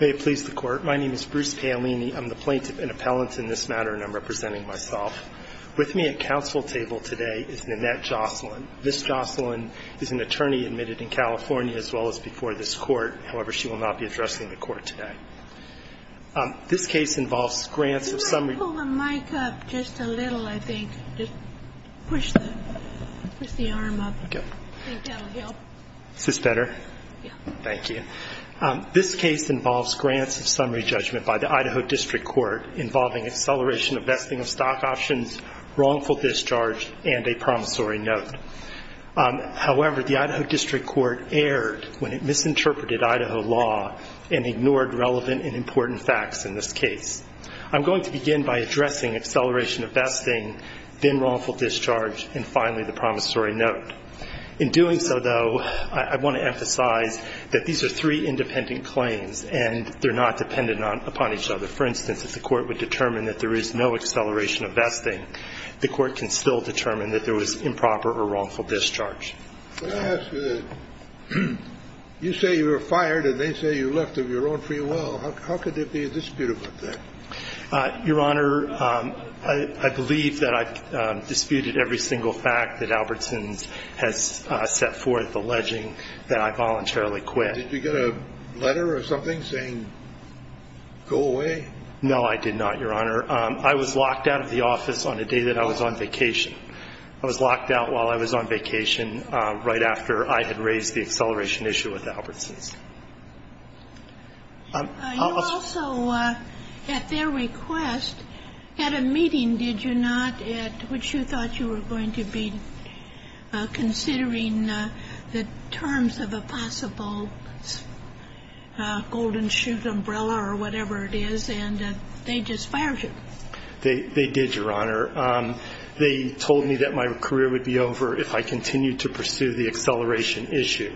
May it please the Court, my name is Bruce Paolini, I'm the plaintiff and appellant in this matter and I'm representing myself. With me at council table today is Nanette Jocelyn. Ms. Jocelyn is an attorney admitted in California as well as before this Court. However, she will not be addressing the Court today. This case involves grants of some- Could you pull the mic up just a little, I think? Just push the arm up. Okay. I think that'll help. Is this better? Yeah. Thank you. This case involves grants of summary judgment by the Idaho District Court involving acceleration of vesting of stock options, wrongful discharge, and a promissory note. However, the Idaho District Court erred when it misinterpreted Idaho law and ignored relevant and important facts in this case. I'm going to begin by addressing acceleration of vesting, then wrongful discharge, and finally the promissory note. In doing so, though, I want to emphasize that these are three independent claims and they're not dependent upon each other. For instance, if the Court would determine that there is no acceleration of vesting, the Court can still determine that there was improper or wrongful discharge. Let me ask you this. You say you were fired and they say you left of your own free will. How could there be a dispute about that? Your Honor, I believe that I've disputed every single fact that Albertsons has set forth alleging that I voluntarily quit. Did you get a letter or something saying go away? No, I did not, Your Honor. I was locked out of the office on the day that I was on vacation. I was locked out while I was on vacation right after I had raised the acceleration issue with Albertsons. You also, at their request, had a meeting, did you not, at which you thought you were going to be considering the terms of a possible golden shoot umbrella or whatever it is, and they just fired you. They did, Your Honor. They told me that my career would be over if I continued to pursue the acceleration issue.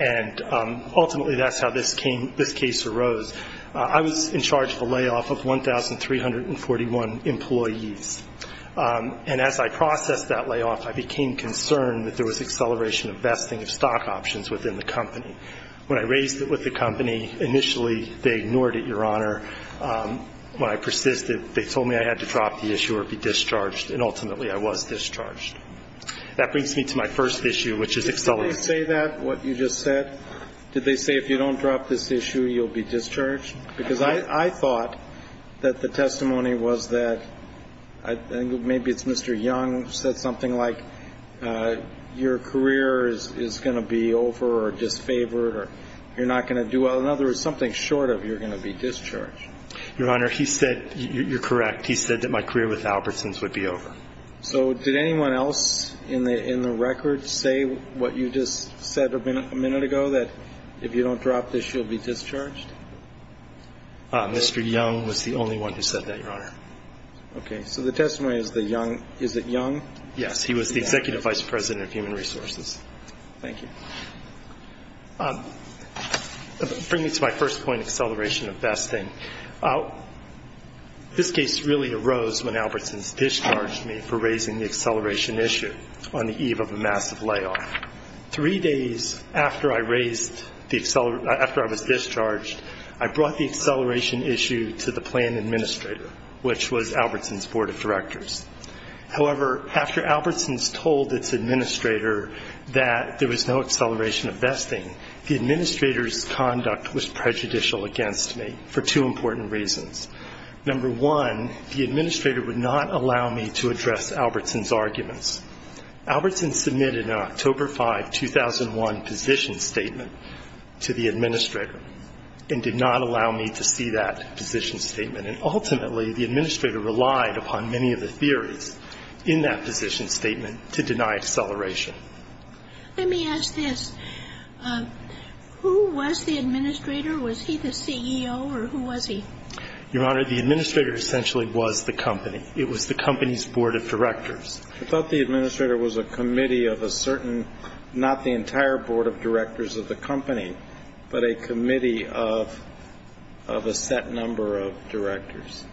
And ultimately that's how this case arose. I was in charge of the layoff of 1,341 employees. And as I processed that layoff, I became concerned that there was acceleration of vesting of stock options within the company. When I raised it with the company, initially they ignored it, Your Honor. When I persisted, they told me I had to drop the issue or be discharged, and ultimately I was discharged. That brings me to my first issue, which is acceleration. Did they say that, what you just said? Did they say if you don't drop this issue, you'll be discharged? Because I thought that the testimony was that, maybe it's Mr. Young said something like, your career is going to be over or disfavored or you're not going to do well. In other words, something short of you're going to be discharged. Your Honor, he said, you're correct, he said that my career with Albertsons would be over. So did anyone else in the record say what you just said a minute ago, that if you don't drop this, you'll be discharged? Mr. Young was the only one who said that, Your Honor. Okay. So the testimony is that Young, is it Young? Yes. He was the Executive Vice President of Human Resources. Thank you. Bring me to my first point, acceleration of vesting. This case really arose when Albertsons discharged me for raising the acceleration issue on the eve of a massive layoff. Three days after I was discharged, I brought the acceleration issue to the plan administrator, which was Albertsons Board of Directors. However, after Albertsons told its administrator that there was no acceleration of vesting, the administrator's conduct was prejudicial against me for two important reasons. Number one, the administrator would not allow me to address Albertsons' arguments. Albertsons submitted an October 5, 2001 position statement to the administrator and did not allow me to see that position statement. And ultimately, the administrator relied upon many of the theories in that position statement to deny acceleration. Let me ask this. Who was the administrator? Was he the CEO or who was he? Your Honor, the administrator essentially was the company. It was the company's board of directors. I thought the administrator was a committee of a certain, not the entire board of directors of the company, but a committee of a set number of directors.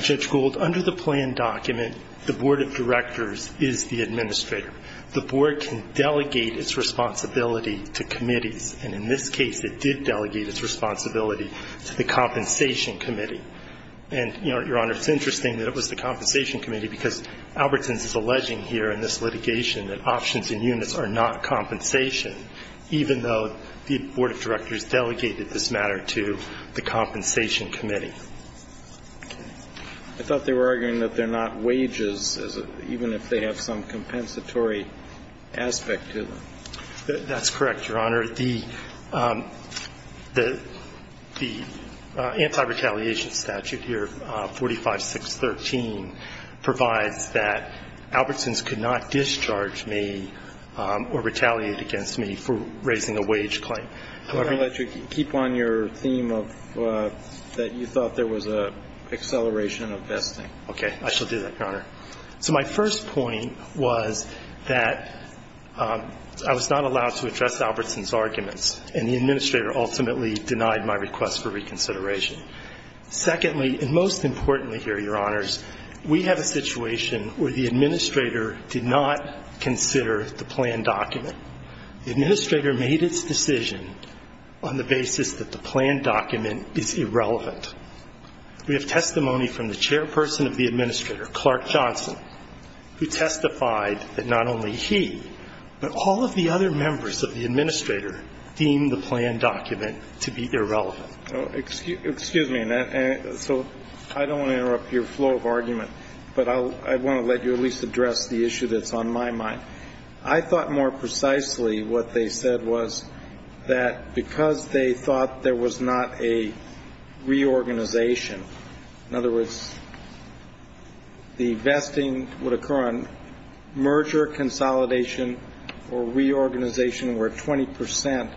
Judge Gould, under the plan document, the board of directors is the administrator. The board can delegate its responsibility to committees. And in this case, it did delegate its responsibility to the compensation committee. And, Your Honor, it's interesting that it was the compensation committee because Albertsons is alleging here in this litigation that options and units are not compensation, even though the board of directors delegated this matter to the compensation committee. I thought they were arguing that they're not wages, even if they have some compensatory aspect to them. That's correct, Your Honor. The anti-retaliation statute here, 45613, provides that Albertsons could not discharge me or retaliate against me for raising a wage claim. I'm going to let you keep on your theme of that you thought there was an acceleration of vesting. Okay. I shall do that, Your Honor. So my first point was that I was not allowed to address Albertsons' arguments, and the administrator ultimately denied my request for reconsideration. Secondly, and most importantly here, Your Honors, we have a situation where the administrator did not consider the plan document. The administrator made its decision on the basis that the plan document is irrelevant. We have testimony from the chairperson of the administrator, Clark Johnson, who testified that not only he, but all of the other members of the administrator, deemed the plan document to be irrelevant. Excuse me. So I don't want to interrupt your flow of argument, but I want to let you at least address the issue that's on my mind. I thought more precisely what they said was that because they thought there was not a reorganization, in other words, the vesting would occur on merger, consolidation, or reorganization where 20 percent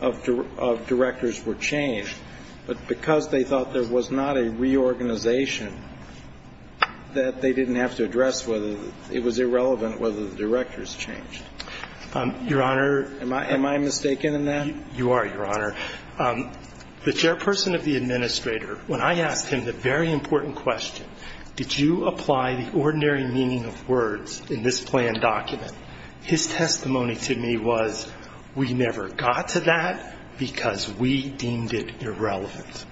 of directors were changed, but because they thought there was not a reorganization that they didn't have to address whether it was irrelevant or whether the directors changed. Your Honor. Am I mistaken in that? You are, Your Honor. The chairperson of the administrator, when I asked him the very important question, did you apply the ordinary meaning of words in this plan document, his testimony to me was we never got to that because we deemed it irrelevant.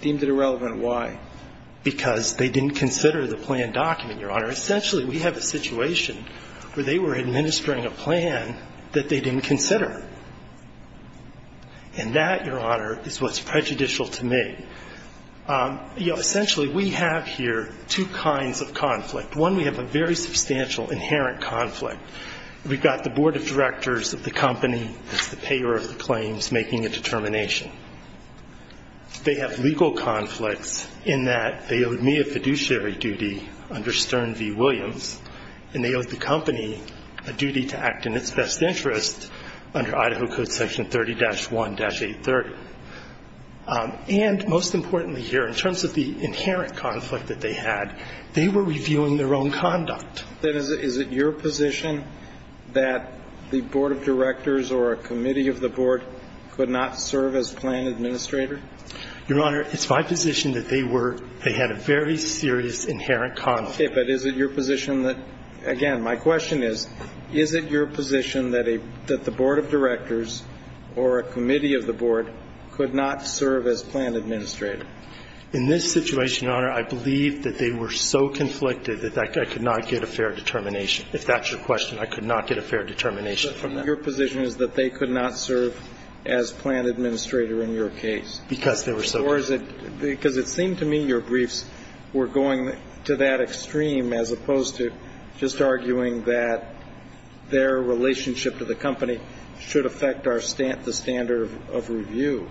Deemed it irrelevant. Why? Because they didn't consider the plan document, Your Honor. Essentially, we have a situation where they were administering a plan that they didn't consider. And that, Your Honor, is what's prejudicial to me. You know, essentially, we have here two kinds of conflict. One, we have a very substantial inherent conflict. We've got the board of directors of the company that's the payer of the claims making a determination. They have legal conflicts in that they owe me a fiduciary duty under Stern v. Williams, and they owe the company a duty to act in its best interest under Idaho Code Section 30-1-830. And most importantly here, in terms of the inherent conflict that they had, they were reviewing their own conduct. Then is it your position that the board of directors or a committee of the board could not serve as plan administrator? Your Honor, it's my position that they were they had a very serious inherent conflict. Okay, but is it your position that, again, my question is, is it your position that the board of directors or a committee of the board could not serve as plan administrator? In this situation, Your Honor, I believe that they were so conflicted that I could not get a fair determination. If that's your question, I could not get a fair determination from them. Your Honor, your position is that they could not serve as plan administrator in your case. Because they were so conflicted. Or is it because it seemed to me your briefs were going to that extreme as opposed to just arguing that their relationship to the company should affect our standard of review.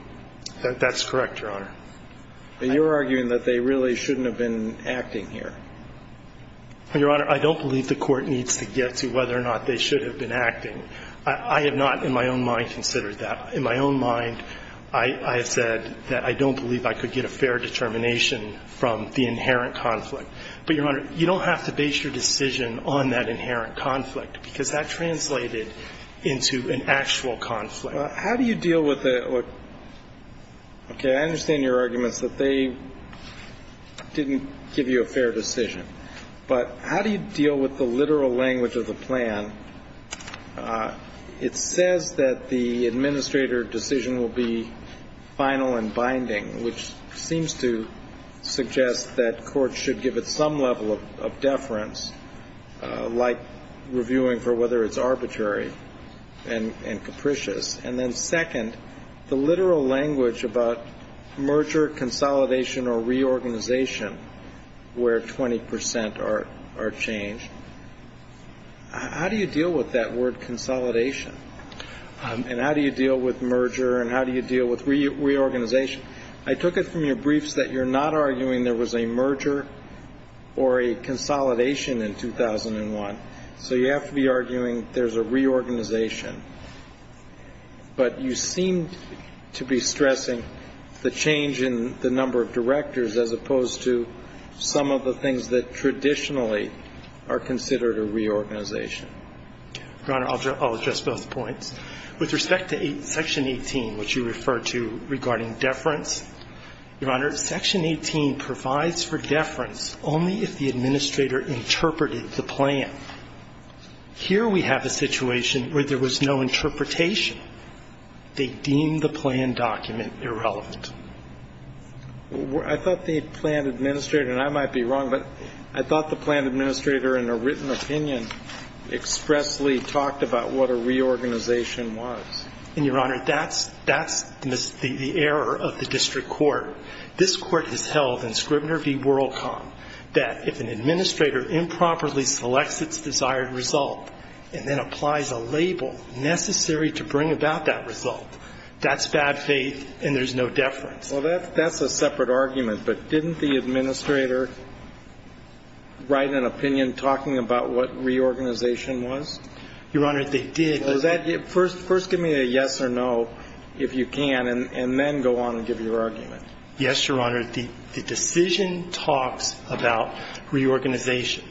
That's correct, Your Honor. You're arguing that they really shouldn't have been acting here. Your Honor, I don't believe the Court needs to get to whether or not they should have been acting. I have not in my own mind considered that. In my own mind, I have said that I don't believe I could get a fair determination from the inherent conflict. But, Your Honor, you don't have to base your decision on that inherent conflict, because that translated into an actual conflict. How do you deal with the – okay, I understand your arguments that they didn't give you a fair decision. But how do you deal with the literal language of the plan? It says that the administrator decision will be final and binding, which seems to suggest that courts should give it some level of deference, like reviewing for whether it's arbitrary and capricious. And then second, the literal language about merger, consolidation, or reorganization, where 20 percent are changed. How do you deal with that word consolidation? And how do you deal with merger? And how do you deal with reorganization? I took it from your briefs that you're not arguing there was a merger or a consolidation in 2001. So you have to be arguing there's a reorganization. But you seem to be stressing the change in the number of directors as opposed to some of the things that traditionally are considered a reorganization. Your Honor, I'll address both points. With respect to Section 18, which you referred to regarding deference, Your Honor, Section 18 provides for deference only if the administrator interpreted the plan. Here we have a situation where there was no interpretation. They deemed the plan document irrelevant. I thought the plan administrator, and I might be wrong, but I thought the plan administrator in a written opinion expressly talked about what a reorganization was. And, Your Honor, that's the error of the district court. This Court has held in Scribner v. Worldcom that if an administrator improperly selects its desired result and then applies a label necessary to bring about that result, that's bad faith and there's no deference. Well, that's a separate argument. But didn't the administrator write an opinion talking about what reorganization was? Your Honor, they did. First give me a yes or no, if you can, and then go on and give your argument. Yes, Your Honor. The decision talks about reorganization,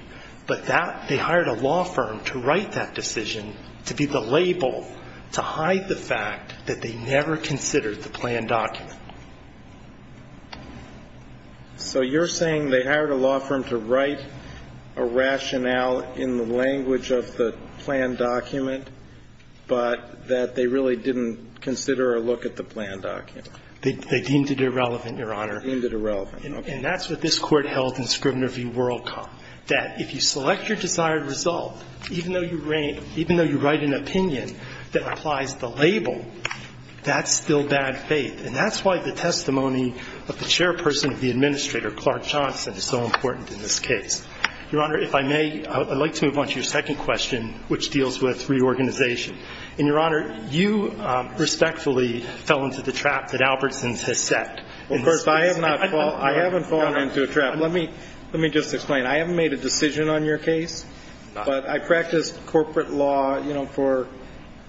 but that they hired a law firm to write that decision to be the label to hide the fact that they never considered the plan document. So you're saying they hired a law firm to write a rationale in the language of the plan document, but that they really didn't consider or look at the plan document? They deemed it irrelevant, Your Honor. Deemed it irrelevant. And that's what this Court held in Scribner v. Worldcom, that if you select your desired result, even though you write an opinion that applies the label, that's still bad faith. And that's why the testimony of the chairperson of the administrator, Clark Johnson, is so important in this case. Your Honor, if I may, I'd like to move on to your second question, which deals with reorganization. And, Your Honor, you respectfully fell into the trap that Albertson has set. Of course, I haven't fallen into a trap. Let me just explain. I haven't made a decision on your case, but I practiced corporate law, you know, for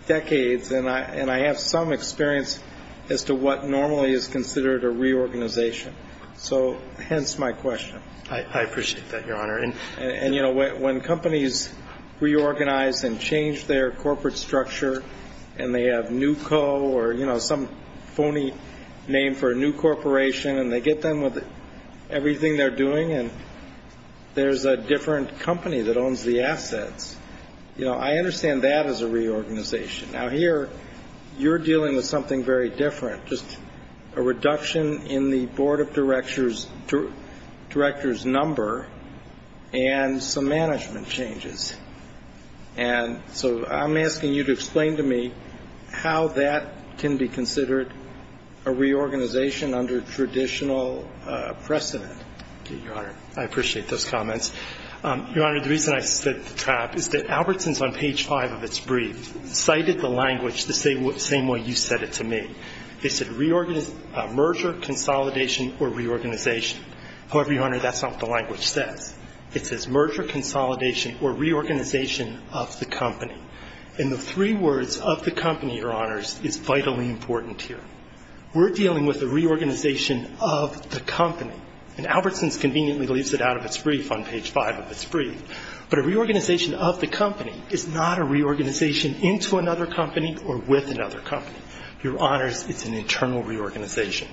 decades, and I have some experience as to what normally is considered a reorganization. So hence my question. I appreciate that, Your Honor. And, you know, when companies reorganize and change their corporate structure and they have NewCo or, you know, some phony name for a new corporation, and they get done with everything they're doing, and there's a different company that owns the assets, you know, I understand that as a reorganization. Now, here you're dealing with something very different, just a reduction in the board of directors' number and some management changes. And so I'm asking you to explain to me how that can be considered a reorganization under traditional precedent. Thank you, Your Honor. I appreciate those comments. Your Honor, the reason I set the trap is that Albertson's on page five of its brief cited the language the same way you said it to me. It said merger, consolidation, or reorganization. However, Your Honor, that's not what the language says. It says merger, consolidation, or reorganization of the company. And the three words of the company, Your Honors, is vitally important here. We're dealing with a reorganization of the company. And Albertson's conveniently leaves it out of its brief on page five of its brief. But a reorganization of the company is not a reorganization into another company or with another company. Your Honors, it's an internal reorganization,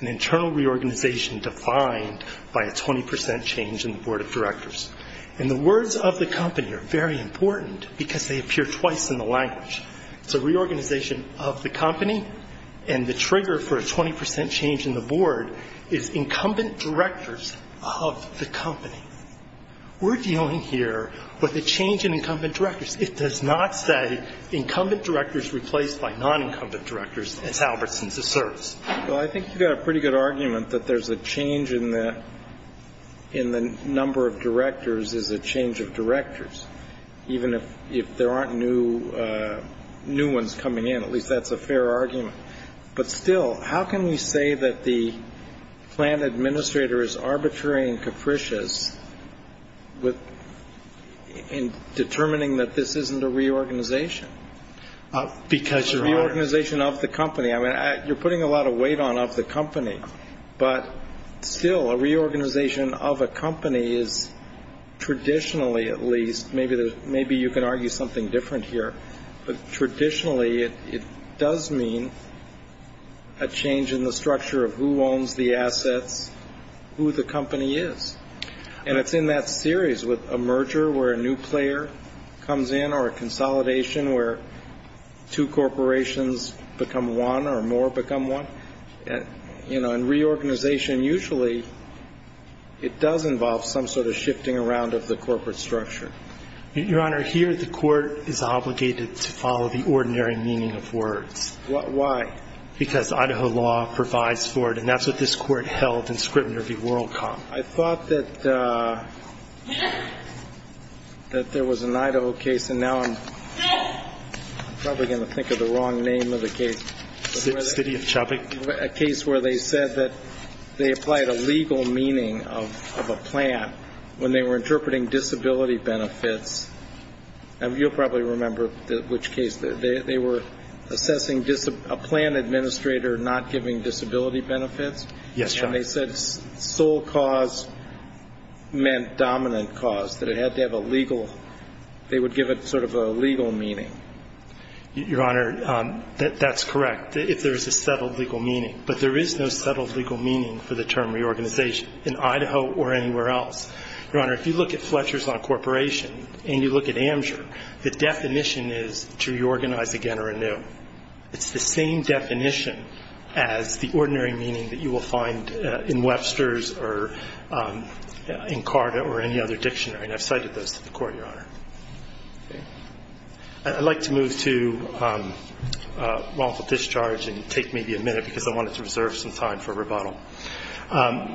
an internal reorganization defined by a 20% change in the board of directors. And the words of the company are very important because they appear twice in the language. It's a reorganization of the company, and the trigger for a 20% change in the board is incumbent directors of the company. We're dealing here with a change in incumbent directors. It does not say incumbent directors replaced by non-incumbent directors, as Albertson's asserts. Well, I think you've got a pretty good argument that there's a change in the number of directors is a change of directors, even if there aren't new ones coming in. At least that's a fair argument. But still, how can we say that the plan administrator is arbitrary and capricious in determining that this isn't a reorganization? Because, Your Honors. A reorganization of the company. I mean, you're putting a lot of weight on of the company, but still a reorganization of a company is traditionally at least, maybe you can argue something different here, but traditionally it does mean a change in the structure of who owns the assets, who the company is. And it's in that series with a merger where a new player comes in or a consolidation where two corporations become one or more become one. You know, in reorganization, usually it does involve some sort of shifting around of the corporate structure. Your Honor, here the Court is obligated to follow the ordinary meaning of words. Why? Because Idaho law provides for it, and that's what this Court held in scrutiny of the World Comp. I thought that there was an Idaho case, and now I'm probably going to think of the wrong name of the case. City of Chubbuck. A case where they said that they applied a legal meaning of a plan when they were interpreting disability benefits. And you'll probably remember which case. Yes, Your Honor. When they said sole cause meant dominant cause, that it had to have a legal, they would give it sort of a legal meaning. Your Honor, that's correct, if there is a settled legal meaning. But there is no settled legal meaning for the term reorganization in Idaho or anywhere else. Your Honor, if you look at Fletcher's on corporation and you look at Amsher, the definition is to reorganize again or anew. It's the same definition as the ordinary meaning that you will find in Webster's or in Carta or any other dictionary. And I've cited those to the Court, Your Honor. I'd like to move to wrongful discharge and take maybe a minute because I wanted to reserve some time for rebuttal.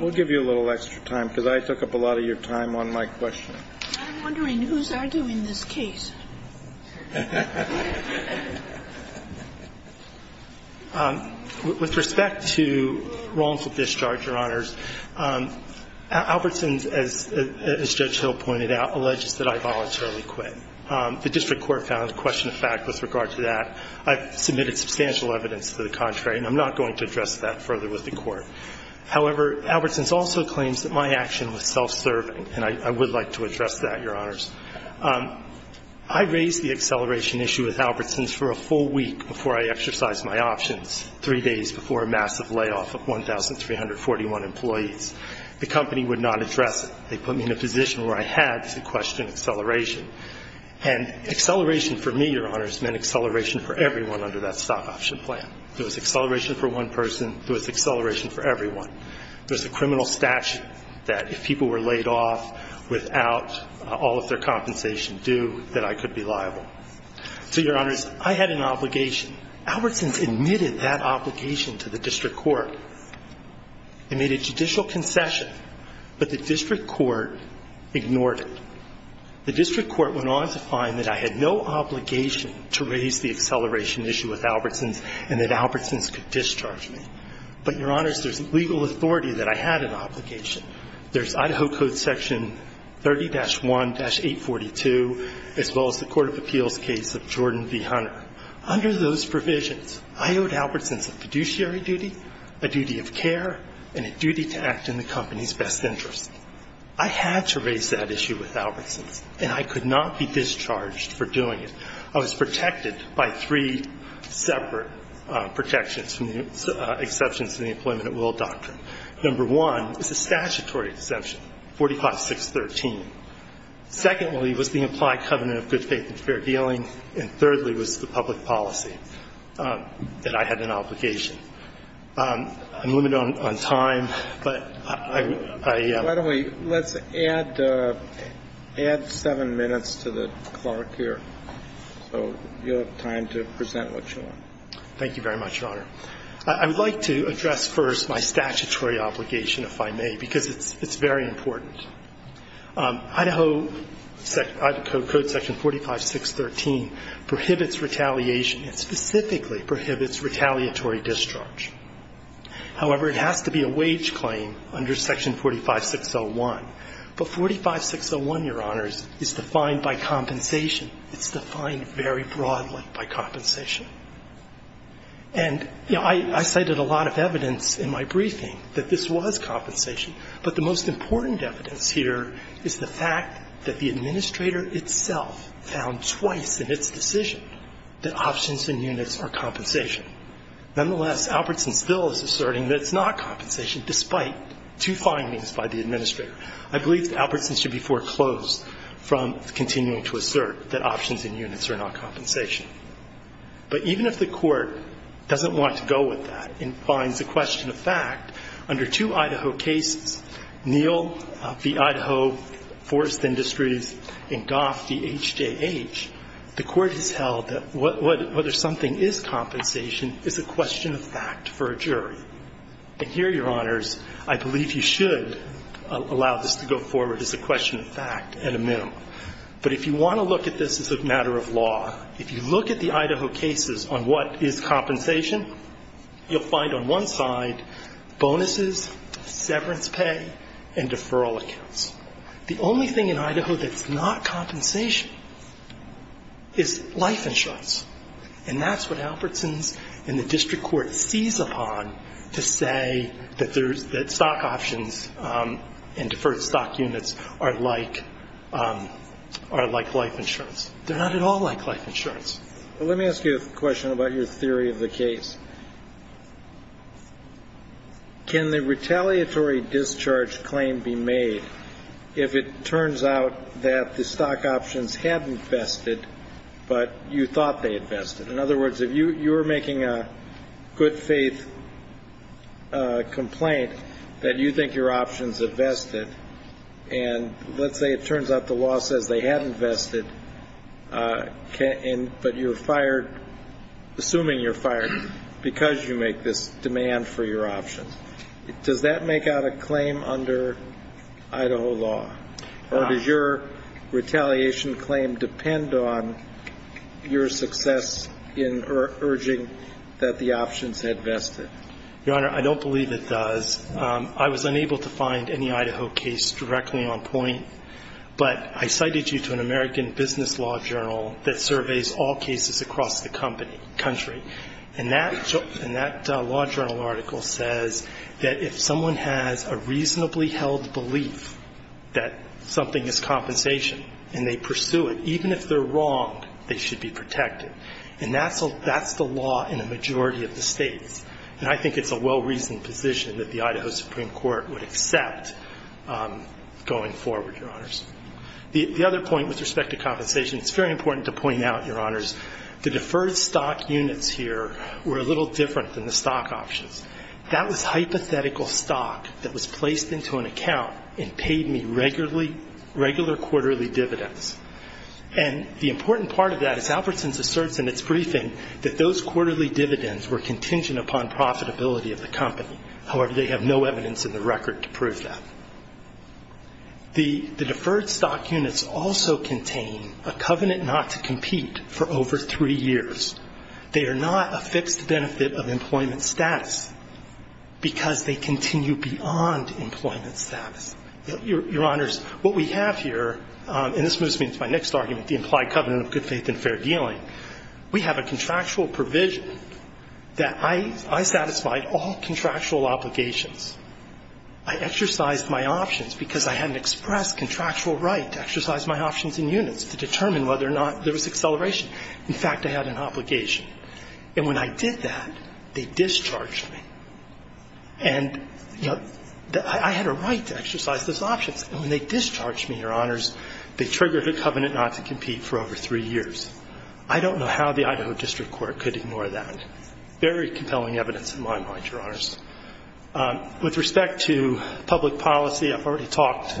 We'll give you a little extra time because I took up a lot of your time on my question. I'm wondering who's arguing this case. With respect to wrongful discharge, Your Honors, Albertson's, as Judge Hill pointed out, alleges that I voluntarily quit. The district court found a question of fact with regard to that. I've submitted substantial evidence to the contrary, and I'm not going to address that further with the Court. However, Albertson's also claims that my action was self-serving, and I would like to address that, Your Honors. I raised the acceleration issue with Albertson's for a full week before I exercised my options, three days before a massive layoff of 1,341 employees. The company would not address it. They put me in a position where I had to question acceleration. And acceleration for me, Your Honors, meant acceleration for everyone under that stop-option plan. There was acceleration for one person. There was acceleration for everyone. There's a criminal statute that if people were laid off without all of their compensation due, that I could be liable. So, Your Honors, I had an obligation. Albertson's admitted that obligation to the district court. It made a judicial concession, but the district court ignored it. The district court went on to find that I had no obligation to raise the acceleration issue with Albertson's, and that Albertson's could discharge me. But, Your Honors, there's legal authority that I had an obligation. There's Idaho Code Section 30-1-842, as well as the Court of Appeals case of Jordan v. Hunter. Under those provisions, I owed Albertson's a fiduciary duty, a duty of care, and a duty to act in the company's best interest. I had to raise that issue with Albertson's, and I could not be discharged for doing it. I was protected by three separate protections, exceptions to the employment at will doctrine. Number one is a statutory exemption, 45-613. Secondly was the implied covenant of good faith and fair dealing. And thirdly was the public policy that I had an obligation. I'm limited on time, but I am. Let's add seven minutes to the clerk here, so you'll have time to present what you want. Thank you very much, Your Honor. I would like to address first my statutory obligation, if I may, because it's very important. Idaho Code Section 45-613 prohibits retaliation. It specifically prohibits retaliatory discharge. However, it has to be a wage claim under Section 45-601. But 45-601, Your Honors, is defined by compensation. It's defined very broadly by compensation. And, you know, I cited a lot of evidence in my briefing that this was compensation, but the most important evidence here is the fact that the administrator itself found twice in its decision that options and units are compensation. Nonetheless, Albertson still is asserting that it's not compensation, despite two findings by the administrator. I believe that Albertson should be foreclosed from continuing to assert that options and units are not compensation. But even if the court doesn't want to go with that and finds the question a fact, under two Idaho cases, Neal v. Idaho Forest Industries and Goff v. HJH, the court has held that whether something is compensation is a question of fact for a jury. And here, Your Honors, I believe you should allow this to go forward as a question of fact at a minimum. But if you want to look at this as a matter of law, if you look at the Idaho cases on what is compensation, you'll find on one side bonuses, severance pay, and deferral accounts. The only thing in Idaho that's not compensation is life insurance. And that's what Albertson's and the district court sees upon to say that stock options and deferred stock units are like life insurance. They're not at all like life insurance. Let me ask you a question about your theory of the case. Can the retaliatory discharge claim be made if it turns out that the stock options hadn't vested, but you thought they had vested? In other words, if you were making a good-faith complaint that you think your options had vested, and let's say it turns out the law says they hadn't vested, but you're assuming you're fired because you make this demand for your options, does that make out a claim under Idaho law? Or does your retaliation claim depend on your success in urging that the options had vested? Your Honor, I don't believe it does. I was unable to find any Idaho case directly on point, but I cited you to an American business law journal that surveys all cases across the country. And that law journal article says that if someone has a reasonably held belief that something is compensation and they pursue it, even if they're wrong, they should be protected. And that's the law in a majority of the states. And I think it's a well-reasoned position that the Idaho Supreme Court would accept going forward, Your Honors. The other point with respect to compensation, it's very important to point out, Your Honors, the deferred stock units here were a little different than the stock options. That was hypothetical stock that was placed into an account and paid me regular quarterly dividends. And the important part of that is Alpertson's asserts in its briefing that those quarterly dividends were contingent upon profitability of the company. However, they have no evidence in the record to prove that. The deferred stock units also contain a covenant not to compete for over three years. They are not a fixed benefit of employment status because they continue beyond employment status. Your Honors, what we have here, and this moves me into my next argument, the implied covenant of good faith and fair dealing. We have a contractual provision that I satisfied all contractual obligations. I exercised my options because I had an express contractual right to exercise my options in units to determine whether or not there was acceleration. In fact, I had an obligation. And when I did that, they discharged me. And, you know, I had a right to exercise those options. And when they discharged me, Your Honors, they triggered a covenant not to compete for over three years. I don't know how the Idaho District Court could ignore that. Very compelling evidence in my mind, Your Honors. With respect to public policy, I've already talked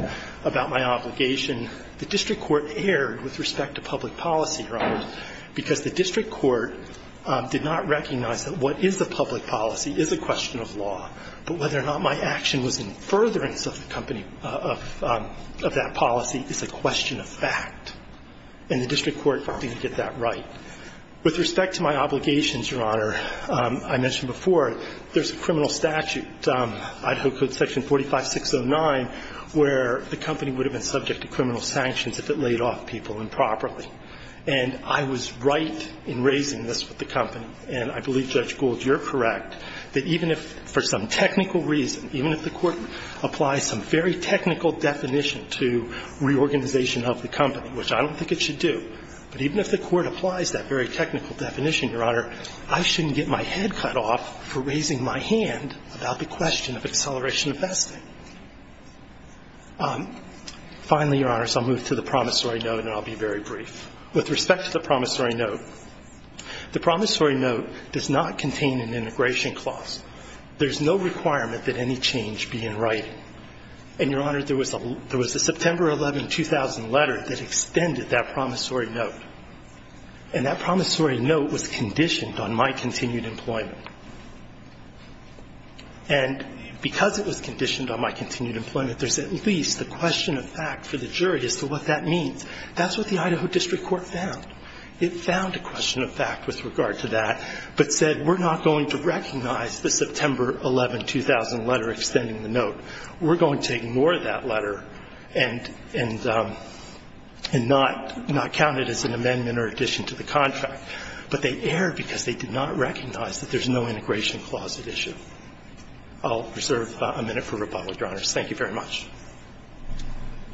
about my obligation. The District Court erred with respect to public policy, Your Honors, because the District Court did not recognize that what is the public policy is a question of law. But whether or not my action was in furtherance of that policy is a question of fact. And the District Court didn't get that right. With respect to my obligations, Your Honor, I mentioned before there's a criminal statute, Idaho Code section 45609, where the company would have been subject to criminal sanctions if it laid off people improperly. And I was right in raising this with the company. And I believe, Judge Gould, you're correct that even if for some technical reason, even if the court applies some very technical definition to reorganization of the company, which I don't think it should do, but even if the court applies that very technical definition, Your Honor, I shouldn't get my head cut off for raising my hand about the question of acceleration of vesting. Finally, Your Honors, I'll move to the promissory note and I'll be very brief. With respect to the promissory note, the promissory note does not contain an integration clause. There's no requirement that any change be in writing. And, Your Honor, there was a September 11, 2000 letter that extended that promissory note. And that promissory note was conditioned on my continued employment. And because it was conditioned on my continued employment, there's at least a question of fact for the jury as to what that means. That's what the Idaho District Court found. It found a question of fact with regard to that, but said we're not going to recognize the September 11, 2000 letter extending the note. We're going to ignore that letter and not count it as an amendment or addition to the contract. But they erred because they did not recognize that there's no integration clause at issue. I'll reserve a minute for rebuttal, Your Honors. Thank you very much.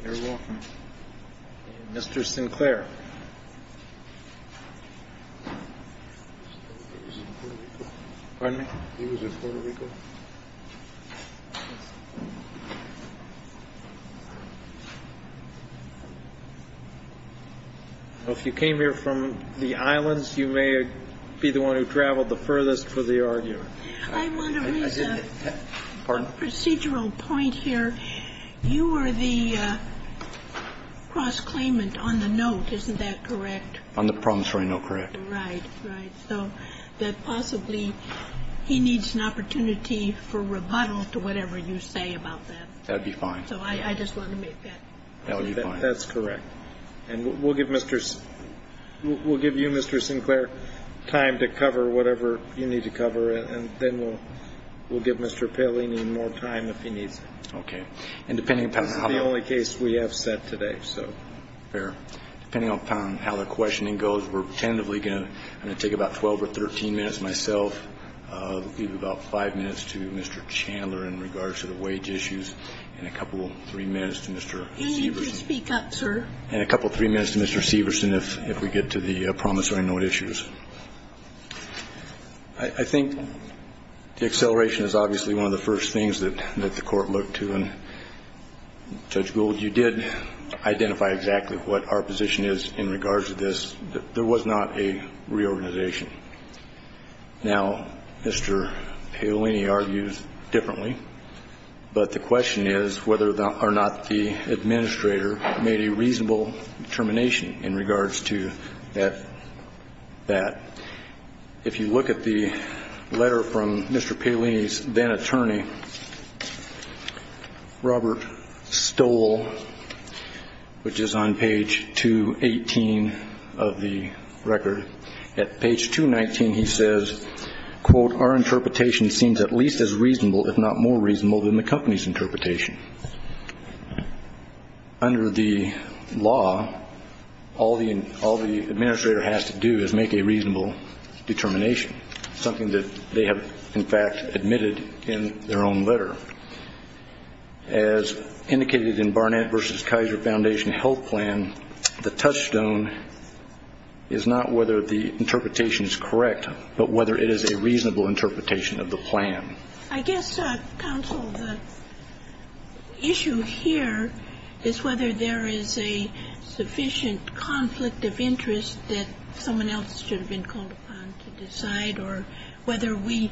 You're welcome. Mr. Sinclair. Pardon me? He was in Puerto Rico. So if you came here from the islands, you may be the one who traveled the furthest for the argument. I want to raise a procedural point here. You were the cross-claimant on the note, isn't that correct? On the promissory note, correct. Right, right. So that possibly he needs an opportunity for rebuttal to whatever you say about that. That would be fine. So I just wanted to make that point. That's correct. And we'll give Mr. We'll give you, Mr. Sinclair, time to cover whatever you need to cover. And then we'll give Mr. Paolini more time if he needs it. Okay. And depending upon how. This is the only case we have set today, so. Fair. Depending upon how the questioning goes, we're tentatively going to take about 12 or 13 minutes myself, leave about five minutes to Mr. Chandler in regards to the wage issues, and a couple, three minutes to Mr. Severson. Can you please speak up, sir? And a couple, three minutes to Mr. Severson if we get to the promissory note issues. I think the acceleration is obviously one of the first things that the court looked to. And Judge Gould, you did identify exactly what our position is in regards to this. There was not a reorganization. Now, Mr. Paolini argues differently. But the question is whether or not the administrator made a reasonable determination in regards to that. If you look at the letter from Mr. Paolini's then-attorney, Robert Stoll, which is on page 218 of the record. At page 219, he says, quote, our interpretation seems at least as reasonable, if not more reasonable, than the company's interpretation. Under the law, all the administrator has to do is make a reasonable determination, something that they have, in fact, admitted in their own letter. As indicated in Barnett v. Kaiser Foundation Health Plan, the touchstone is not whether the interpretation is correct, but whether it is a reasonable interpretation of the plan. I guess, counsel, the issue here is whether there is a sufficient conflict of interest that someone else should have been called upon to decide or whether we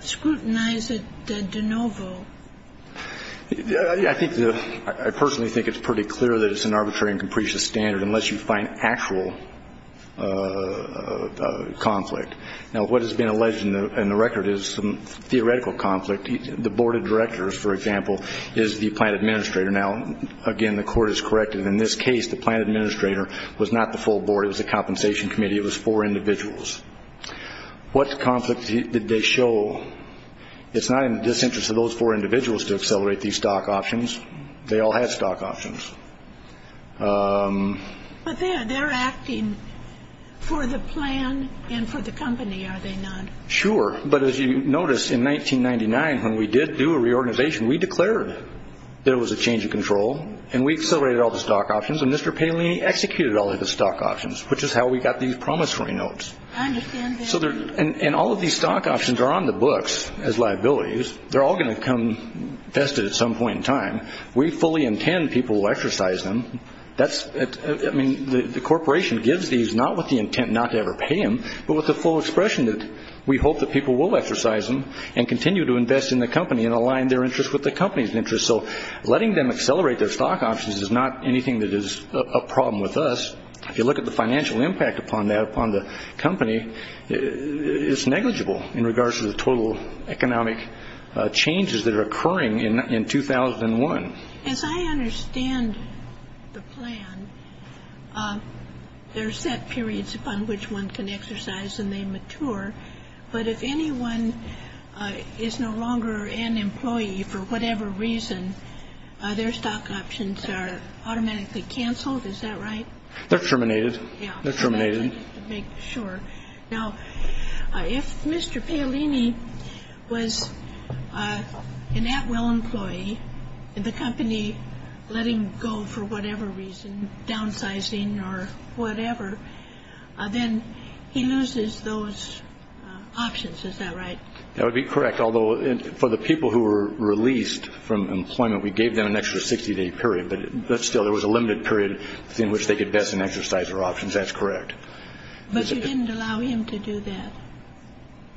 scrutinize it de novo. I think the – I personally think it's pretty clear that it's an arbitrary and capricious standard unless you find actual conflict. Now, what has been alleged in the record is some theoretical conflict. The board of directors, for example, is the plan administrator. Now, again, the court has corrected. In this case, the plan administrator was not the full board. It was a compensation committee. It was four individuals. What conflict did they show? It's not in the disinterest of those four individuals to accelerate these stock options. They all had stock options. But they're acting for the plan and for the company, are they not? Sure. But as you notice, in 1999, when we did do a reorganization, we declared that it was a change of control, and we accelerated all the stock options, and Mr. Palini executed all of the stock options, which is how we got these promissory notes. I understand that. And all of these stock options are on the books as liabilities. They're all going to come vested at some point in time. We fully intend people will exercise them. I mean, the corporation gives these not with the intent not to ever pay them, but with the full expression that we hope that people will exercise them and continue to invest in the company and align their interests with the company's interests. So letting them accelerate their stock options is not anything that is a problem with us. If you look at the financial impact upon that, upon the company, it's negligible in regards to the total economic changes that are occurring in 2001. As I understand the plan, there are set periods upon which one can exercise and they mature, but if anyone is no longer an employee for whatever reason, their stock options are automatically canceled, is that right? Yeah. They're terminated. Terminated to make sure. Now, if Mr. Paolini was an at-will employee and the company let him go for whatever reason, downsizing or whatever, then he loses those options, is that right? That would be correct, although for the people who were released from employment, we gave them an extra 60-day period, but still there was a limited period in which they could invest in exercise or options. That's correct. But you didn't allow him to do that.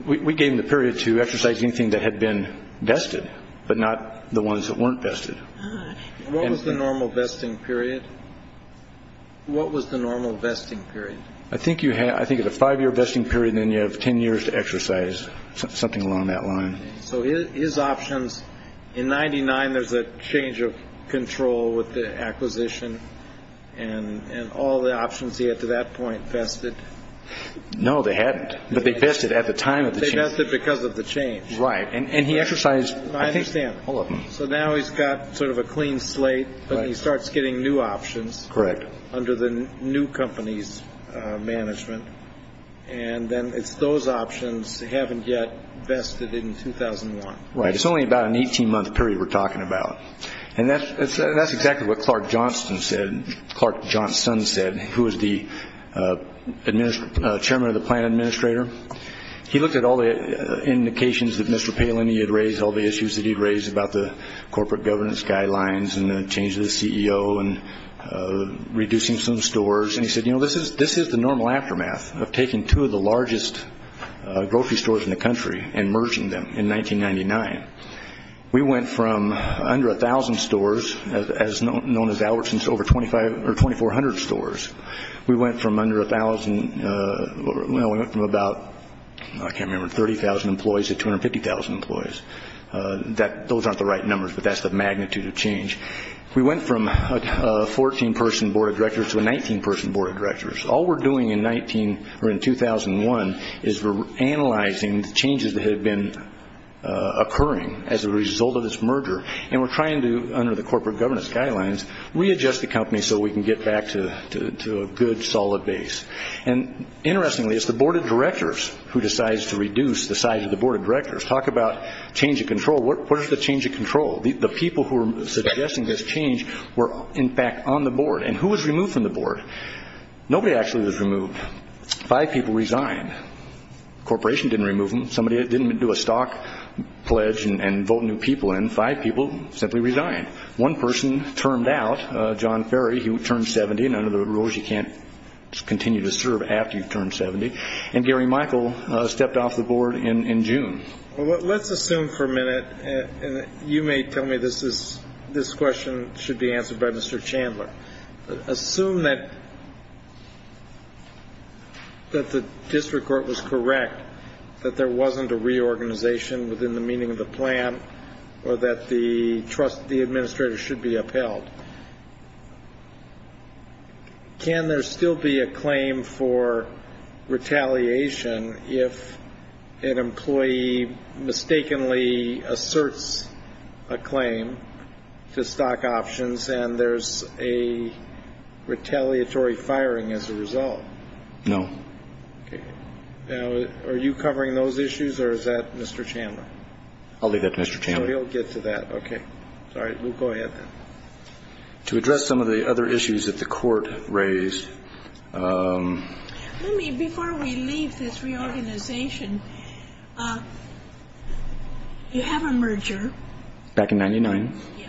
We gave him the period to exercise anything that had been vested, but not the ones that weren't vested. What was the normal vesting period? What was the normal vesting period? I think at a five-year vesting period, then you have 10 years to exercise, something along that line. So his options, in 1999, there's a change of control with the acquisition, and all the options he had to that point vested. No, they hadn't, but they vested at the time of the change. They vested because of the change. Right, and he exercised, I think, all of them. I understand. So now he's got sort of a clean slate, but he starts getting new options. Correct. Under the new company's management, and then it's those options haven't yet vested in 2001. Right. It's only about an 18-month period we're talking about, and that's exactly what Clark Johnston said, who was the chairman of the plan administrator. He looked at all the indications that Mr. Palin had raised, all the issues that he'd raised about the corporate governance guidelines and the change of the CEO and reducing some stores, and he said, you know, this is the normal aftermath of taking two of the largest grocery stores in the country and merging them in 1999. We went from under 1,000 stores, known as Albertsons, to over 2,400 stores. We went from under 1,000, well, we went from about, I can't remember, 30,000 employees to 250,000 employees. Those aren't the right numbers, but that's the magnitude of change. We went from a 14-person board of directors to a 19-person board of directors. All we're doing in 2001 is we're analyzing the changes that have been occurring as a result of this merger, and we're trying to, under the corporate governance guidelines, readjust the company so we can get back to a good, solid base. Interestingly, it's the board of directors who decides to reduce the size of the board of directors. Talk about change of control. What is the change of control? The people who are suggesting this change were, in fact, on the board. And who was removed from the board? Nobody actually was removed. Five people resigned. The corporation didn't remove them. Somebody didn't do a stock pledge and vote new people in. Five people simply resigned. One person termed out, John Ferry. He turned 70, and under the rules, you can't continue to serve after you've turned 70. And Gary Michael stepped off the board in June. Well, let's assume for a minute, and you may tell me this question should be answered by Mr. Chandler. Assume that the district court was correct, that there wasn't a reorganization within the meaning of the plan or that the administrator should be upheld. Can there still be a claim for retaliation if an employee mistakenly asserts a claim to stock options and there's a retaliatory firing as a result? No. Okay. Now, are you covering those issues, or is that Mr. Chandler? I'll leave that to Mr. Chandler. So he'll get to that. Okay. All right. We'll go ahead then. To address some of the other issues that the court raised. Let me, before we leave this reorganization, you have a merger. Back in 99. Yeah.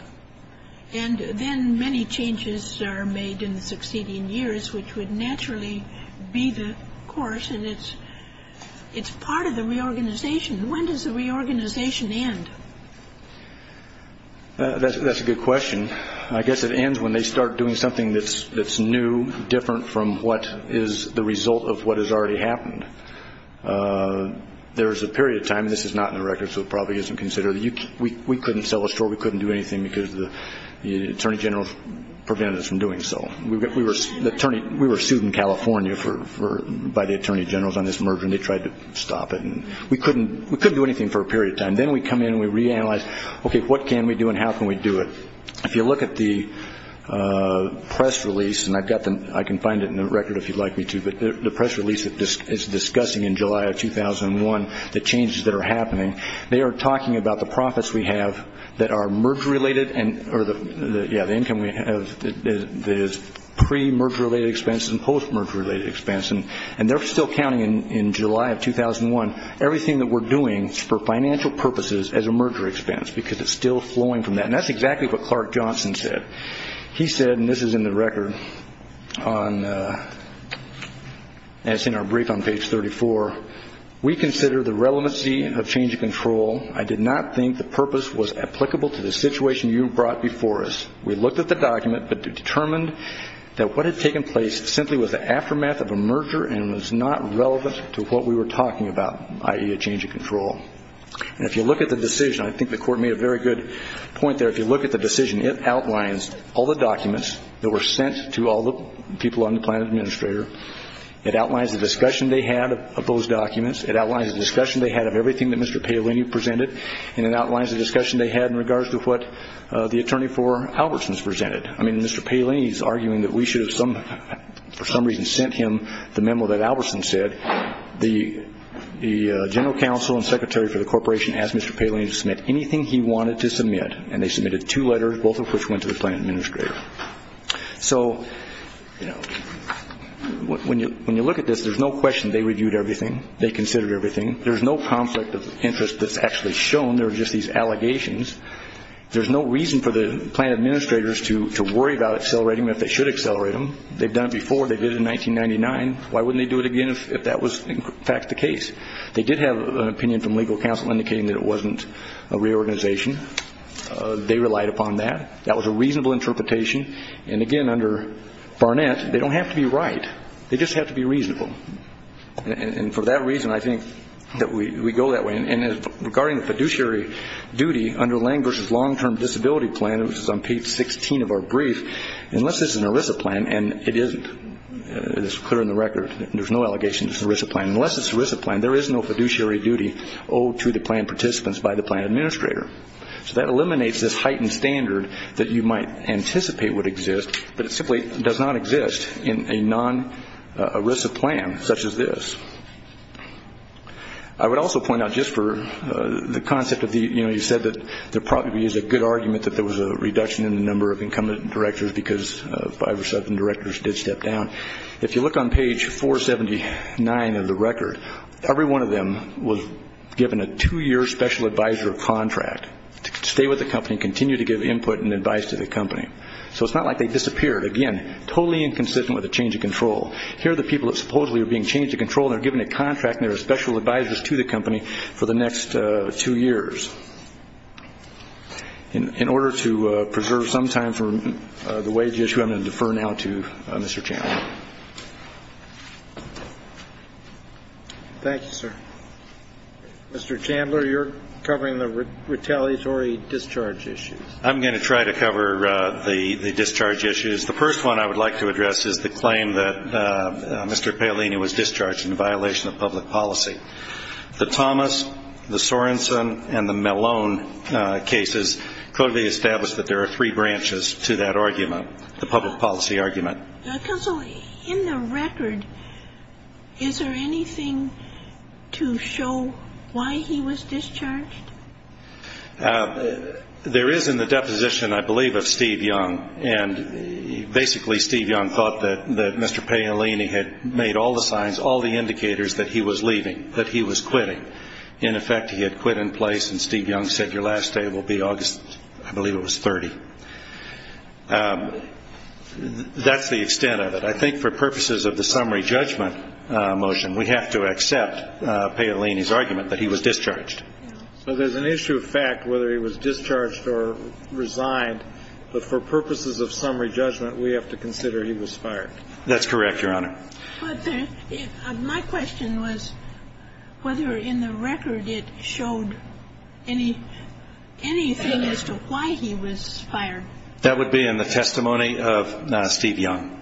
And then many changes are made in the succeeding years, which would naturally be the course, and it's part of the reorganization. When does the reorganization end? That's a good question. I guess it ends when they start doing something that's new, different from what is the result of what has already happened. There is a period of time, and this is not in the records, so it probably isn't considered. We couldn't sell a store. We couldn't do anything because the Attorney General prevented us from doing so. We were sued in California by the Attorney General on this merger, and they tried to stop it. We couldn't do anything for a period of time. Then we come in and we reanalyze, okay, what can we do and how can we do it? If you look at the press release, and I can find it in the record if you'd like me to, but the press release is discussing in July of 2001 the changes that are happening. They are talking about the profits we have that are merge-related, or the income we have that is pre-merge-related expense and post-merge-related expense, and they're still counting in July of 2001. Everything that we're doing is for financial purposes as a merger expense because it's still flowing from that, and that's exactly what Clark Johnson said. He said, and this is in the record, as in our brief on page 34, we consider the relevancy of change of control. I did not think the purpose was applicable to the situation you brought before us. We looked at the document but determined that what had taken place simply was the aftermath of a merger and was not relevant to what we were talking about, i.e., a change of control. And if you look at the decision, I think the Court made a very good point there, if you look at the decision, it outlines all the documents that were sent to all the people on the plan administrator. It outlines the discussion they had of those documents. It outlines the discussion they had of everything that Mr. Paolini presented, and it outlines the discussion they had in regards to what the attorney for Albertson's presented. I mean, Mr. Paolini is arguing that we should have, for some reason, sent him the memo that Albertson said. The general counsel and secretary for the corporation asked Mr. Paolini to submit anything he wanted to submit, and they submitted two letters, both of which went to the plan administrator. So when you look at this, there's no question they reviewed everything. They considered everything. There's no conflict of interest that's actually shown. There are just these allegations. There's no reason for the plan administrators to worry about accelerating them if they should accelerate them. They've done it before. They did it in 1999. Why wouldn't they do it again if that was in fact the case? They did have an opinion from legal counsel indicating that it wasn't a reorganization. They relied upon that. That was a reasonable interpretation. And, again, under Barnett, they don't have to be right. They just have to be reasonable. And for that reason, I think that we go that way. And regarding the fiduciary duty under Lang v. Long-Term Disability Plan, which is on page 16 of our brief, unless it's an ERISA plan, and it isn't. It's clear in the record. There's no allegation it's an ERISA plan. Unless it's an ERISA plan, there is no fiduciary duty owed to the plan participants by the plan administrator. So that eliminates this heightened standard that you might anticipate would exist, but it simply does not exist in a non-ERISA plan such as this. I would also point out just for the concept of the, you know, you said that there probably is a good argument that there was a reduction in the number of incumbent directors because five or seven directors did step down. If you look on page 479 of the record, every one of them was given a two-year special advisor contract to stay with the company and continue to give input and advice to the company. So it's not like they disappeared. Again, totally inconsistent with the change of control. Here are the people that supposedly are being changed of control and are given a contract and there are special advisors to the company for the next two years. In order to preserve some time for the wage issue, I'm going to defer now to Mr. Chandler. Thank you, sir. Mr. Chandler, you're covering the retaliatory discharge issues. I'm going to try to cover the discharge issues. The first one I would like to address is the claim that Mr. Paolini was discharged in violation of public policy. The Thomas, the Sorensen, and the Malone cases clearly establish that there are three branches to that argument, the public policy argument. Counsel, in the record, is there anything to show why he was discharged? There is in the deposition, I believe, of Steve Young, and basically Steve Young thought that Mr. Paolini had made all the signs, all the indicators that he was leaving, that he was quitting. In effect, he had quit in place and Steve Young said your last day will be August, I believe it was, 30. That's the extent of it. I think for purposes of the summary judgment motion, we have to accept Paolini's argument that he was discharged. So there's an issue of fact whether he was discharged or resigned, but for purposes of summary judgment, we have to consider he was fired. That's correct, Your Honor. My question was whether in the record it showed anything as to why he was fired. That would be in the testimony of Steve Young,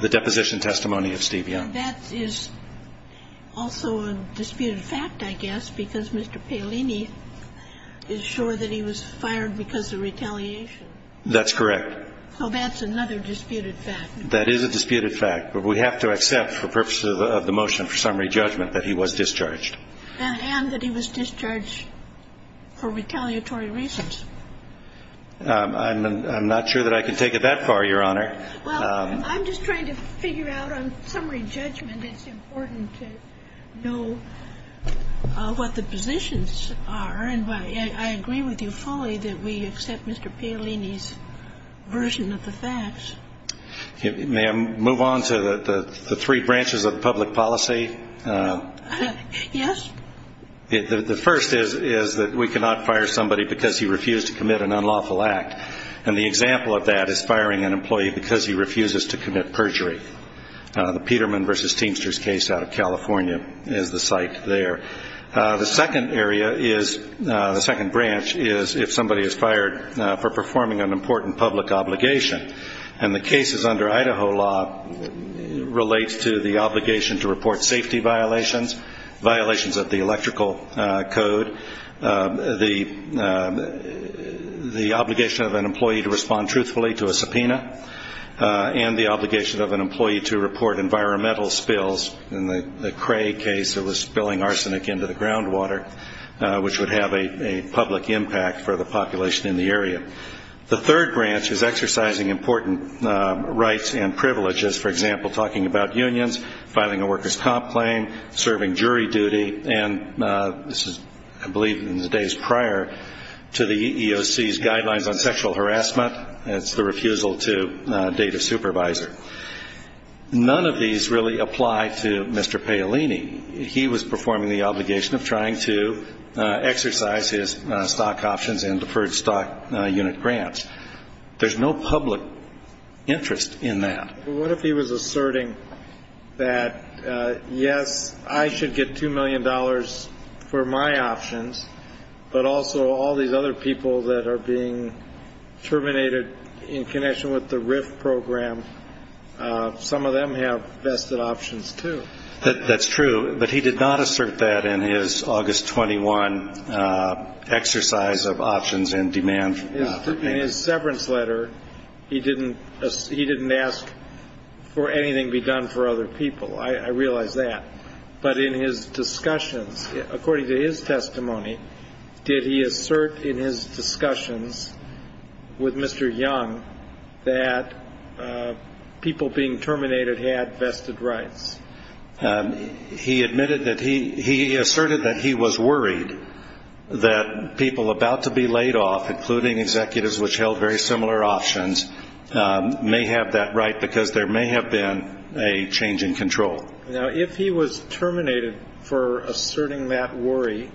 the deposition testimony of Steve Young. That is also a disputed fact, I guess, because Mr. Paolini is sure that he was fired because of retaliation. That's correct. So that's another disputed fact. That is a disputed fact, but we have to accept for purposes of the motion for summary judgment that he was discharged. And that he was discharged for retaliatory reasons. I'm not sure that I can take it that far, Your Honor. Well, I'm just trying to figure out on summary judgment it's important to know what the positions are. And I agree with you fully that we accept Mr. Paolini's version of the facts. May I move on to the three branches of public policy? Yes. The first is that we cannot fire somebody because he refused to commit an unlawful act. And the example of that is firing an employee because he refuses to commit perjury. The Peterman v. Teamsters case out of California is the site there. The second branch is if somebody is fired for performing an important public obligation. And the cases under Idaho law relates to the obligation to report safety violations, violations of the electrical code, the obligation of an employee to respond truthfully to a subpoena, and the obligation of an employee to report environmental spills. In the Cray case, it was spilling arsenic into the groundwater, which would have a public impact for the population in the area. The third branch is exercising important rights and privileges. For example, talking about unions, filing a worker's comp claim, serving jury duty. And this is, I believe, in the days prior to the EEOC's guidelines on sexual harassment. It's the refusal to date a supervisor. None of these really apply to Mr. Paolini. He was performing the obligation of trying to exercise his stock options and deferred stock unit grants. There's no public interest in that. What if he was asserting that, yes, I should get $2 million for my options, but also all these other people that are being terminated in connection with the RIF program, some of them have vested options, too? That's true. But he did not assert that in his August 21 exercise of options and demand. In his severance letter, he didn't ask for anything be done for other people. I realize that. But in his discussions, according to his testimony, did he assert in his discussions with Mr. Young that people being terminated had vested rights? He asserted that he was worried that people about to be laid off, including executives which held very similar options, may have that right because there may have been a change in control. Now, if he was terminated for asserting that worry,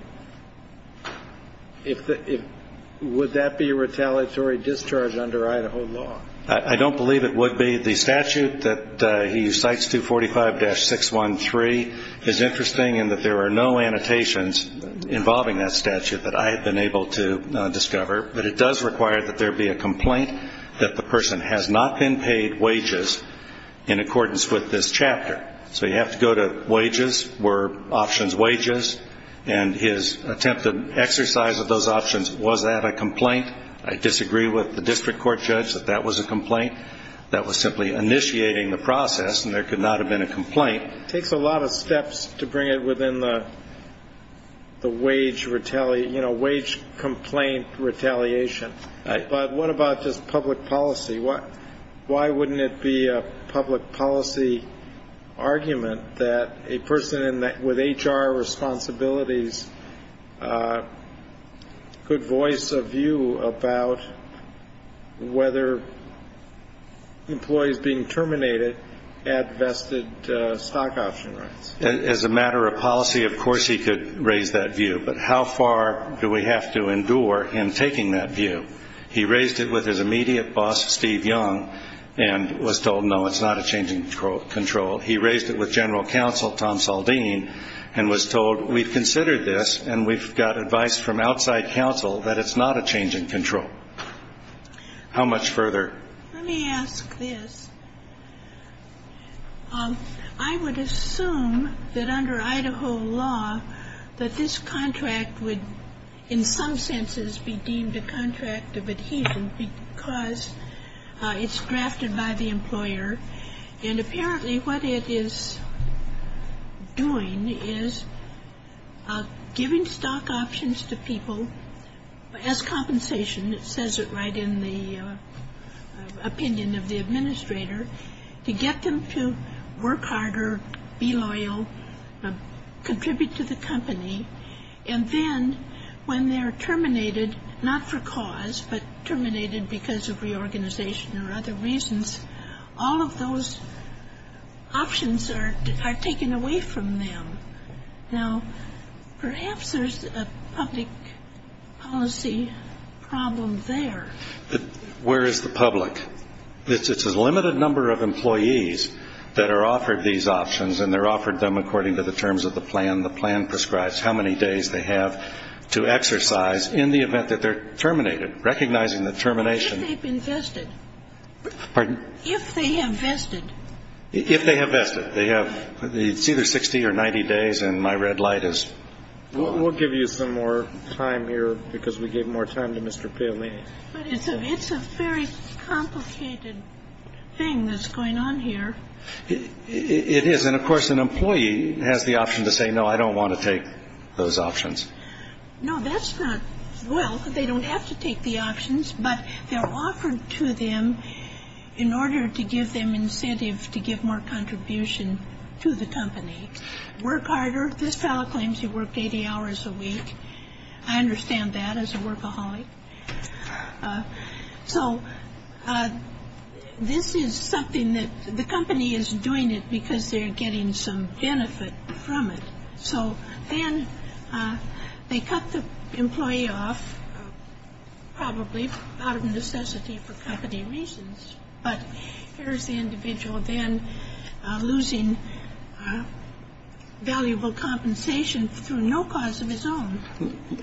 would that be a retaliatory discharge under Idaho law? I don't believe it would be. The statute that he cites, 245-613, is interesting in that there are no annotations involving that statute that I have been able to discover. But it does require that there be a complaint that the person has not been paid wages in accordance with this chapter. So you have to go to wages, were options wages? And his attempt to exercise those options, was that a complaint? I disagree with the district court judge that that was a complaint. That was simply initiating the process, and there could not have been a complaint. It takes a lot of steps to bring it within the wage complaint retaliation. But what about just public policy? Why wouldn't it be a public policy argument that a person with HR responsibilities could voice a view about whether employees being terminated had vested stock option rights? As a matter of policy, of course he could raise that view. But how far do we have to endure him taking that view? He raised it with his immediate boss, Steve Young, and was told, no, it's not a change in control. He raised it with General Counsel Tom Saldine, and was told, we've considered this, and we've got advice from outside counsel that it's not a change in control. How much further? Let me ask this. I would assume that under Idaho law, that this contract would, in some senses, be deemed a contract of adhesion because it's drafted by the employer. And apparently what it is doing is giving stock options to people as compensation. It says it right in the opinion of the administrator, to get them to work harder, be loyal, contribute to the company. And then when they're terminated, not for cause, but terminated because of reorganization or other reasons, all of those options are taken away from them. Now, perhaps there's a public policy problem there. Where is the public? It's a limited number of employees that are offered these options, and they're offered them according to the terms of the plan, the plan prescribes how many days they have to exercise, in the event that they're terminated, recognizing the termination. If they've been vested. Pardon? If they have vested. If they have vested. They have. It's either 60 or 90 days, and my red light is. We'll give you some more time here because we gave more time to Mr. Paolini. But it's a very complicated thing that's going on here. It is. And, of course, an employee has the option to say, no, I don't want to take those options. No, that's not. Well, they don't have to take the options, but they're offered to them in order to give them incentive to give more contribution to the company. Work harder. This fellow claims he worked 80 hours a week. I understand that as a workaholic. So this is something that the company is doing it because they're getting some benefit from it. So then they cut the employee off, probably out of necessity for company reasons. But here's the individual then losing valuable compensation through no cause of his own.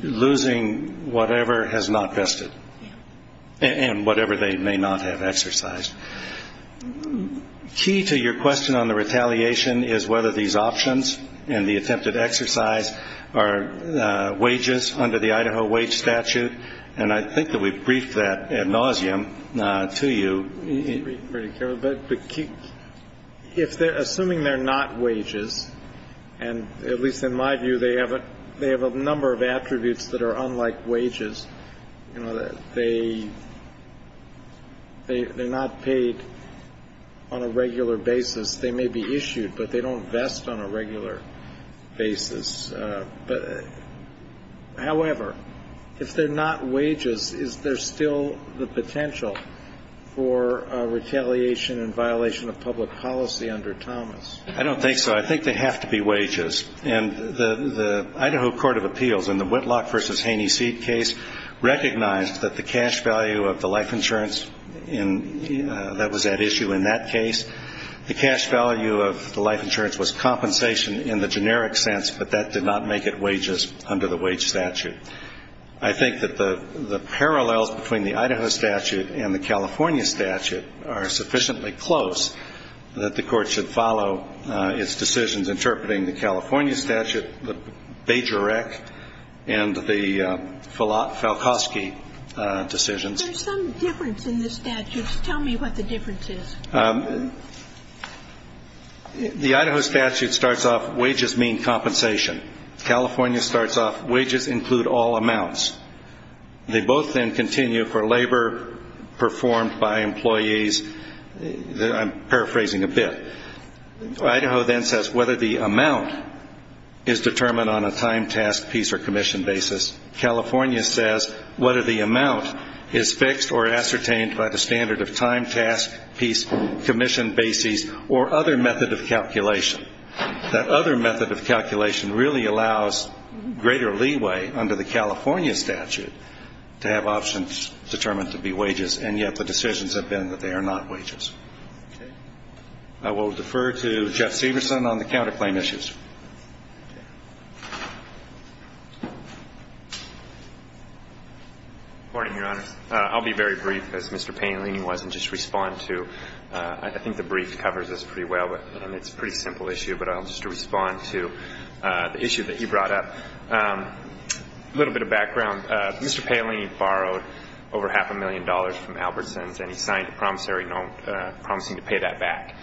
Losing whatever has not vested and whatever they may not have exercised. Key to your question on the retaliation is whether these options and the attempted exercise are wages under the Idaho wage statute. And I think that we've briefed that ad nauseum to you. But if they're assuming they're not wages and at least in my view, they haven't. They have a number of attributes that are unlike wages. They they're not paid on a regular basis. They may be issued, but they don't invest on a regular basis. However, if they're not wages, is there still the potential for retaliation and violation of public policy under Thomas? I don't think so. I think they have to be wages. And the Idaho Court of Appeals in the Whitlock versus Haney Seed case recognized that the cash value of the life insurance in that was at issue in that case. The cash value of the life insurance was compensation in the generic sense, but that did not make it wages under the wage statute. I think that the parallels between the Idaho statute and the California statute are sufficiently close that the Court should follow its decisions interpreting the California statute, the Bajorek and the Falcosky decisions. There's some difference in the statutes. Tell me what the difference is. The Idaho statute starts off wages mean compensation. California starts off wages include all amounts. They both then continue for labor performed by employees. I'm paraphrasing a bit. Idaho then says whether the amount is determined on a time, task, piece, or commission basis. California says whether the amount is fixed or ascertained by the standard of time, task, piece, commission basis or other method of calculation. That other method of calculation really allows greater leeway under the California statute to have options determined to be wages, and yet the decisions have been that they are not wages. Okay. I will defer to Jeff Severson on the counterclaim issues. Okay. Good morning, Your Honor. I'll be very brief, as Mr. Panellini was, and just respond to I think the brief covers this pretty well, and it's a pretty simple issue, but I'll just respond to the issue that he brought up. A little bit of background. Mr. Panellini borrowed over half a million dollars from Albertsons, and he signed a promissory note promising to pay that back.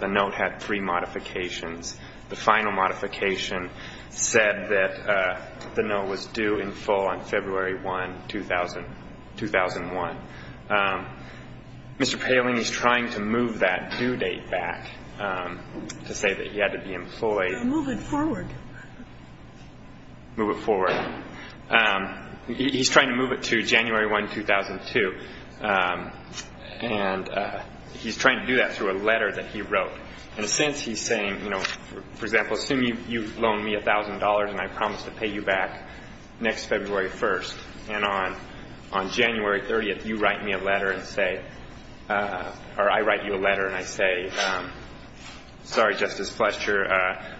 The note had three modifications. The final modification said that the note was due in full on February 1, 2001. Mr. Panellini is trying to move that due date back to say that he had to be employed. Move it forward. Move it forward. He's trying to move it to January 1, 2002, and he's trying to do that through a letter that he wrote. In a sense, he's saying, you know, for example, assume you've loaned me $1,000 and I promise to pay you back next February 1st, and on January 30th, you write me a letter and say, or I write you a letter and I say, sorry, Justice Fletcher,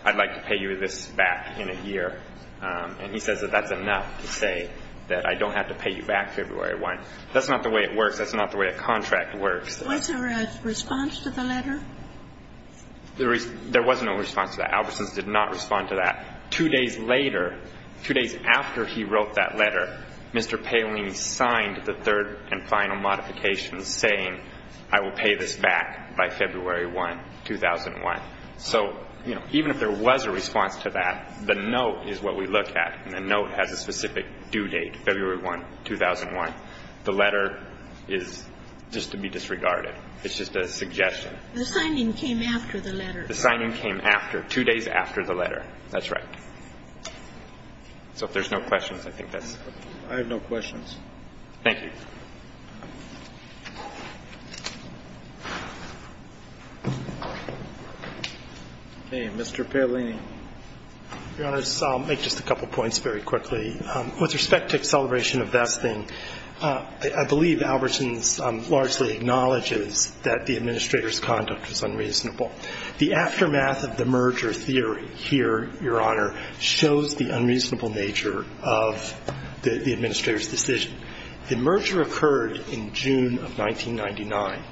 I'd like to pay you this back in a year, and he says that that's enough to say that I don't have to pay you back February 1st. That's not the way it works. That's not the way a contract works. Was there a response to the letter? There was no response to that. Albertsons did not respond to that. Two days later, two days after he wrote that letter, Mr. Panellini signed the third and final modification saying I will pay this back by February 1, 2001. So, you know, even if there was a response to that, the note is what we look at, and the note has a specific due date, February 1, 2001. The letter is just to be disregarded. It's just a suggestion. The signing came after the letter. The signing came after, two days after the letter. That's right. So if there's no questions, I think that's it. I have no questions. Thank you. Okay. Mr. Panellini. Your Honors, I'll make just a couple points very quickly. With respect to acceleration of vesting, I believe Albertsons largely acknowledges that the administrator's conduct was unreasonable. The aftermath of the merger theory here, Your Honor, shows the unreasonable nature of the administrator's decision. The merger occurred in June of 1999.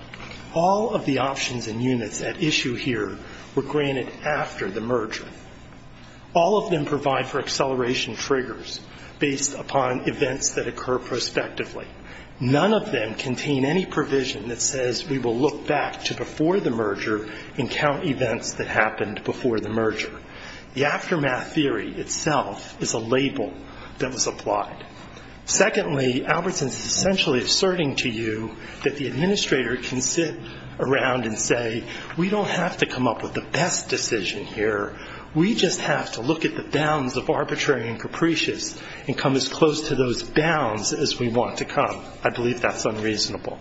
All of the options and units at issue here were granted after the merger. All of them provide for acceleration triggers based upon events that occur prospectively. None of them contain any provision that says we will look back to before the merger and count events that happened before the merger. The aftermath theory itself is a label that was applied. Secondly, Albertsons is essentially asserting to you that the administrator can sit around and say, we don't have to come up with the best decision here. We just have to look at the bounds of arbitrary and capricious and come as close to those bounds as we want to come. I believe that's unreasonable.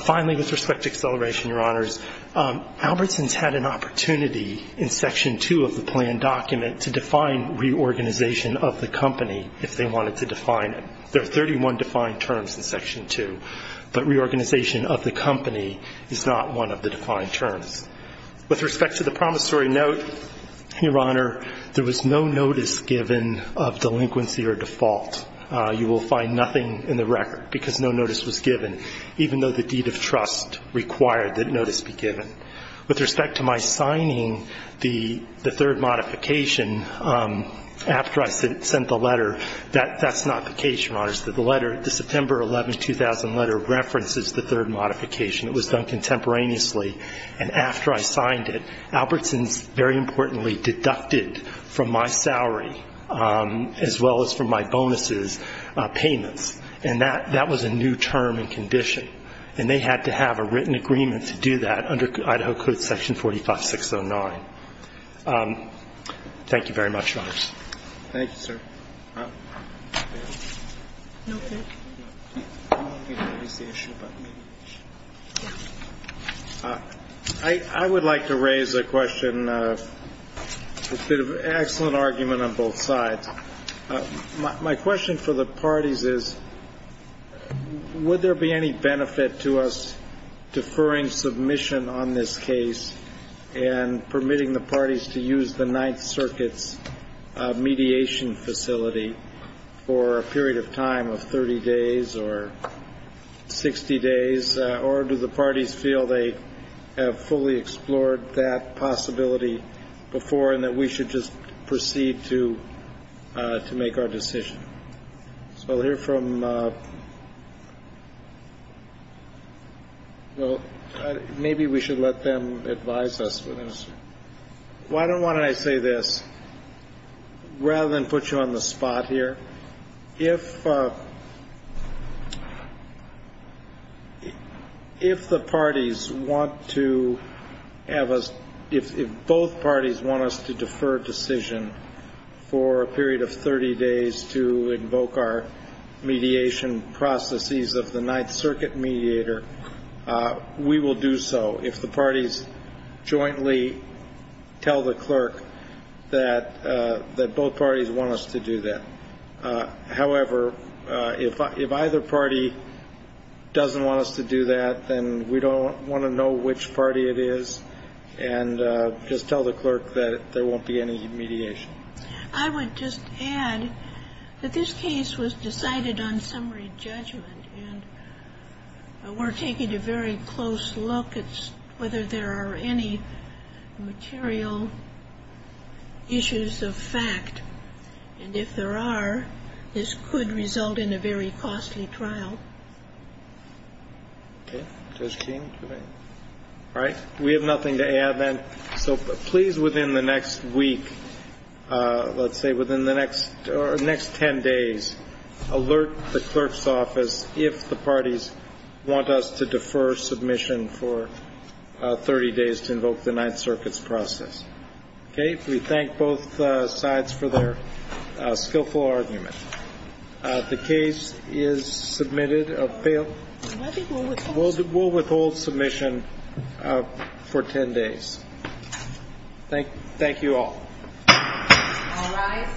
Finally, with respect to acceleration, Your Honors, Albertsons had an opportunity in Section 2 of the plan document to define reorganization of the company, if they wanted to define it. There are 31 defined terms in Section 2, but reorganization of the company is not one of the defined terms. With respect to the promissory note, Your Honor, there was no notice given of delinquency or default. You will find nothing in the record because no notice was given, even though the deed of trust required that notice be given. With respect to my signing the third modification after I sent the letter, that's not vacation, Your Honors. The letter, the September 11, 2000 letter, references the third modification. It was done contemporaneously. And after I signed it, Albertsons, very importantly, deducted from my salary, as well as from my bonuses, payments. And that was a new term and condition. And they had to have a written agreement to do that under Idaho Code Section 45609. Thank you very much, Your Honors. Thank you, sir. I would like to raise a question. It's been an excellent argument on both sides. My question for the parties is, would there be any benefit to us deferring submission on this case and permitting the parties to use the Ninth Circuit's mediation facility for a period of time of 30 days or 60 days, or do the parties feel they have fully explored that possibility before and that we should just proceed to make our decision? So here from. Maybe we should let them advise us. Why don't I say this rather than put you on the spot here? If the parties want to have us, if both parties want us to defer decision for a period of 30 days to invoke our mediation processes of the Ninth Circuit mediator, we will do so. If the parties jointly tell the clerk that both parties want us to do that. However, if either party doesn't want us to do that, then we don't want to know which party it is and just tell the clerk that there won't be any mediation. I would just add that this case was decided on summary judgment and we're taking a very close look at whether there are any material issues of fact. And if there are, this could result in a very costly trial. All right. We have nothing to add then. So please, within the next week, let's say within the next 10 days, alert the clerk's office if the parties want us to defer submission for 30 days to invoke the Ninth Circuit's process. Okay. We thank both sides for their skillful argument. The case is submitted. We'll withhold submission for 10 days. Thank you all. All rise. Court is adjourned.